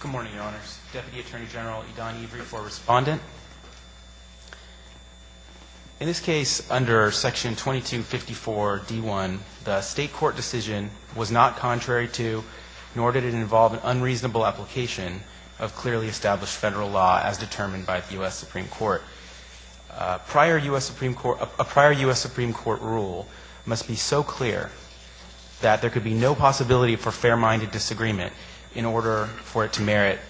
Good morning, Your Honors. Deputy Attorney General Idan Every for Respondent. In this case, under Section 2254 D1, the state court decision was not contrary to, nor did it involve an unreasonable application of clearly established federal law as determined by the U.S. Supreme Court. A prior U.S. Supreme Court rule must be so clear that there could be no possibility for fair-minded disagreement in order for it to merit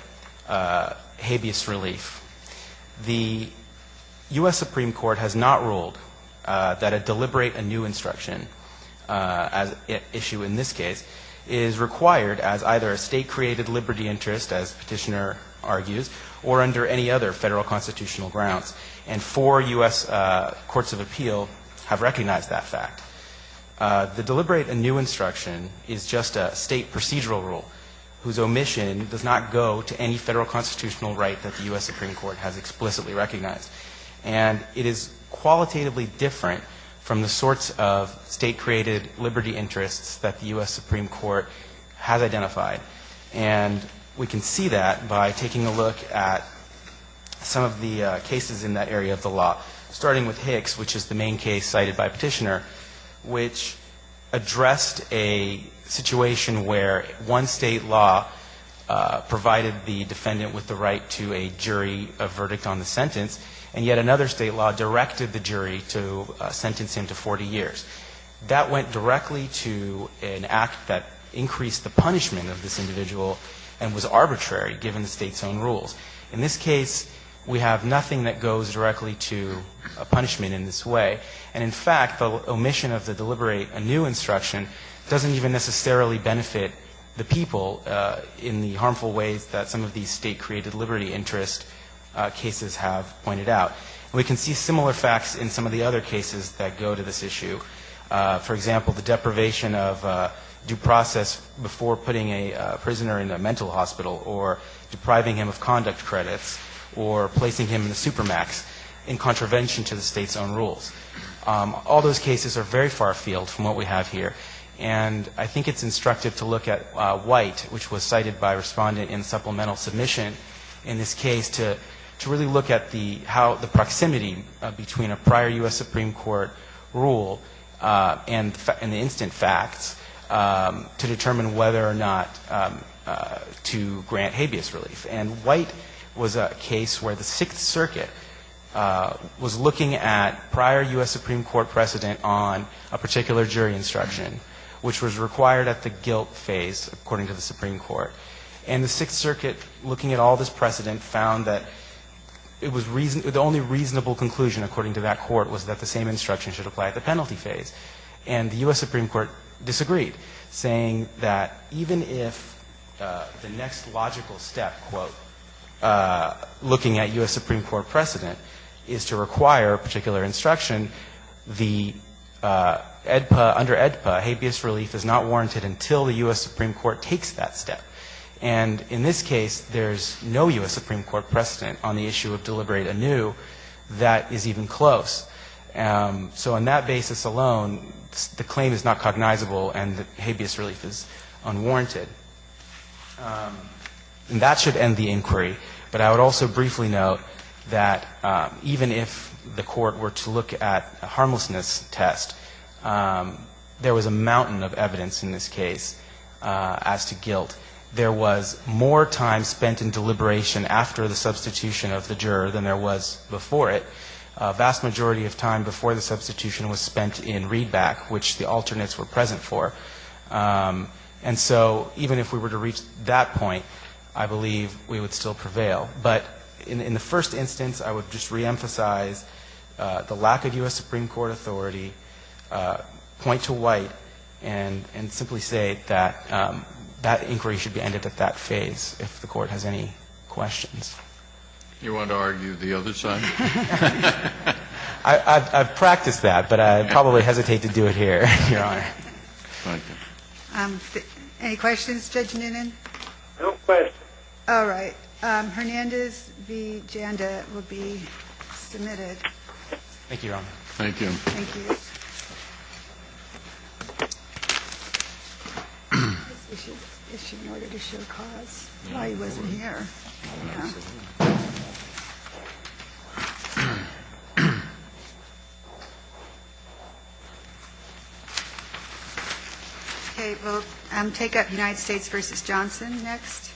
habeas relief. The U.S. Supreme Court has not ruled that a deliberate anew instruction issue in this case is required as either a state-created liberty interest, as the Petitioner argues, or under any other federal constitutional grounds. And four U.S. courts of appeal have recognized that fact. The deliberate anew instruction is just a state procedural rule whose omission does not go to any federal constitutional right that the U.S. Supreme Court has explicitly recognized. And it is qualitatively different from the sorts of state-created liberty interests that the U.S. Supreme Court has identified. And we can see that by taking a look at some of the cases in that area of the law, starting with Hicks, which is the main case cited by Petitioner, which addressed a situation where one State law provided the defendant with the right to a jury, a verdict on the sentence, and yet another State law directed the jury to sentence him to 40 years. That went directly to an act that increased the punishment of this individual and was arbitrary given the State's own rules. In this case, we have nothing that goes directly to a punishment in this way. And in fact, the omission of the deliberate anew instruction doesn't even necessarily benefit the people in the harmful ways that some of these state-created liberty interest cases have pointed out. And we can see similar facts in some of the other cases in this issue. For example, the deprivation of due process before putting a prisoner in a mental hospital, or depriving him of conduct credits, or placing him in the supermax in contravention to the State's own rules. All those cases are very far-field from what we have here. And I think it's instructive to look at White, which was cited by Respondent in supplemental submission in this case, to really look at how the proximity between a prior U.S. Supreme Court rule and the instant facts to determine whether or not to grant habeas relief. And White was a case where the Sixth Circuit was looking at prior U.S. Supreme Court precedent on a particular jury instruction, which was required at the guilt phase, according to the Supreme Court. And the Sixth Circuit, looking at all this precedent, found that it was the only reasonable conclusion, according to that court, was that the same instruction should apply at the penalty phase. And the U.S. Supreme Court disagreed, saying that even if the next logical step, quote, looking at U.S. Supreme Court precedent is to require a particular instruction, the EDPA, under EDPA, habeas relief is not warranted until the U.S. Supreme Court takes that step. And in this case, there's no U.S. Supreme Court precedent on the issue of deliberate anew that is even close. So on that basis alone, the claim is not cognizable and the habeas relief is unwarranted. And that should end the inquiry. But I would also briefly note that even if the Court were to look at a harmlessness test, there was a mountain of evidence in this case as to guilt. There was more time spent in deliberation after the substitution of the juror than there was before it. A vast majority of time before the substitution was spent in readback, which the alternates were present for. And so even if we were to reach that point, I believe we would still prevail. But in the first instance, I would just reemphasize the lack of U.S. Supreme Court authority, point to White, and simply say that that inquiry should be ended at that point. And I think that's all I have for questions. Kennedy. You want to argue the other side? I've practiced that, but I'd probably hesitate to do it here. Thank you. Any questions, Judge Noonan? No questions. All right. Hernandez v. Janda will be submitted. Thank you, Your Honor. Thank you. Thank you. Okay, we'll take up United States v. Johnson next.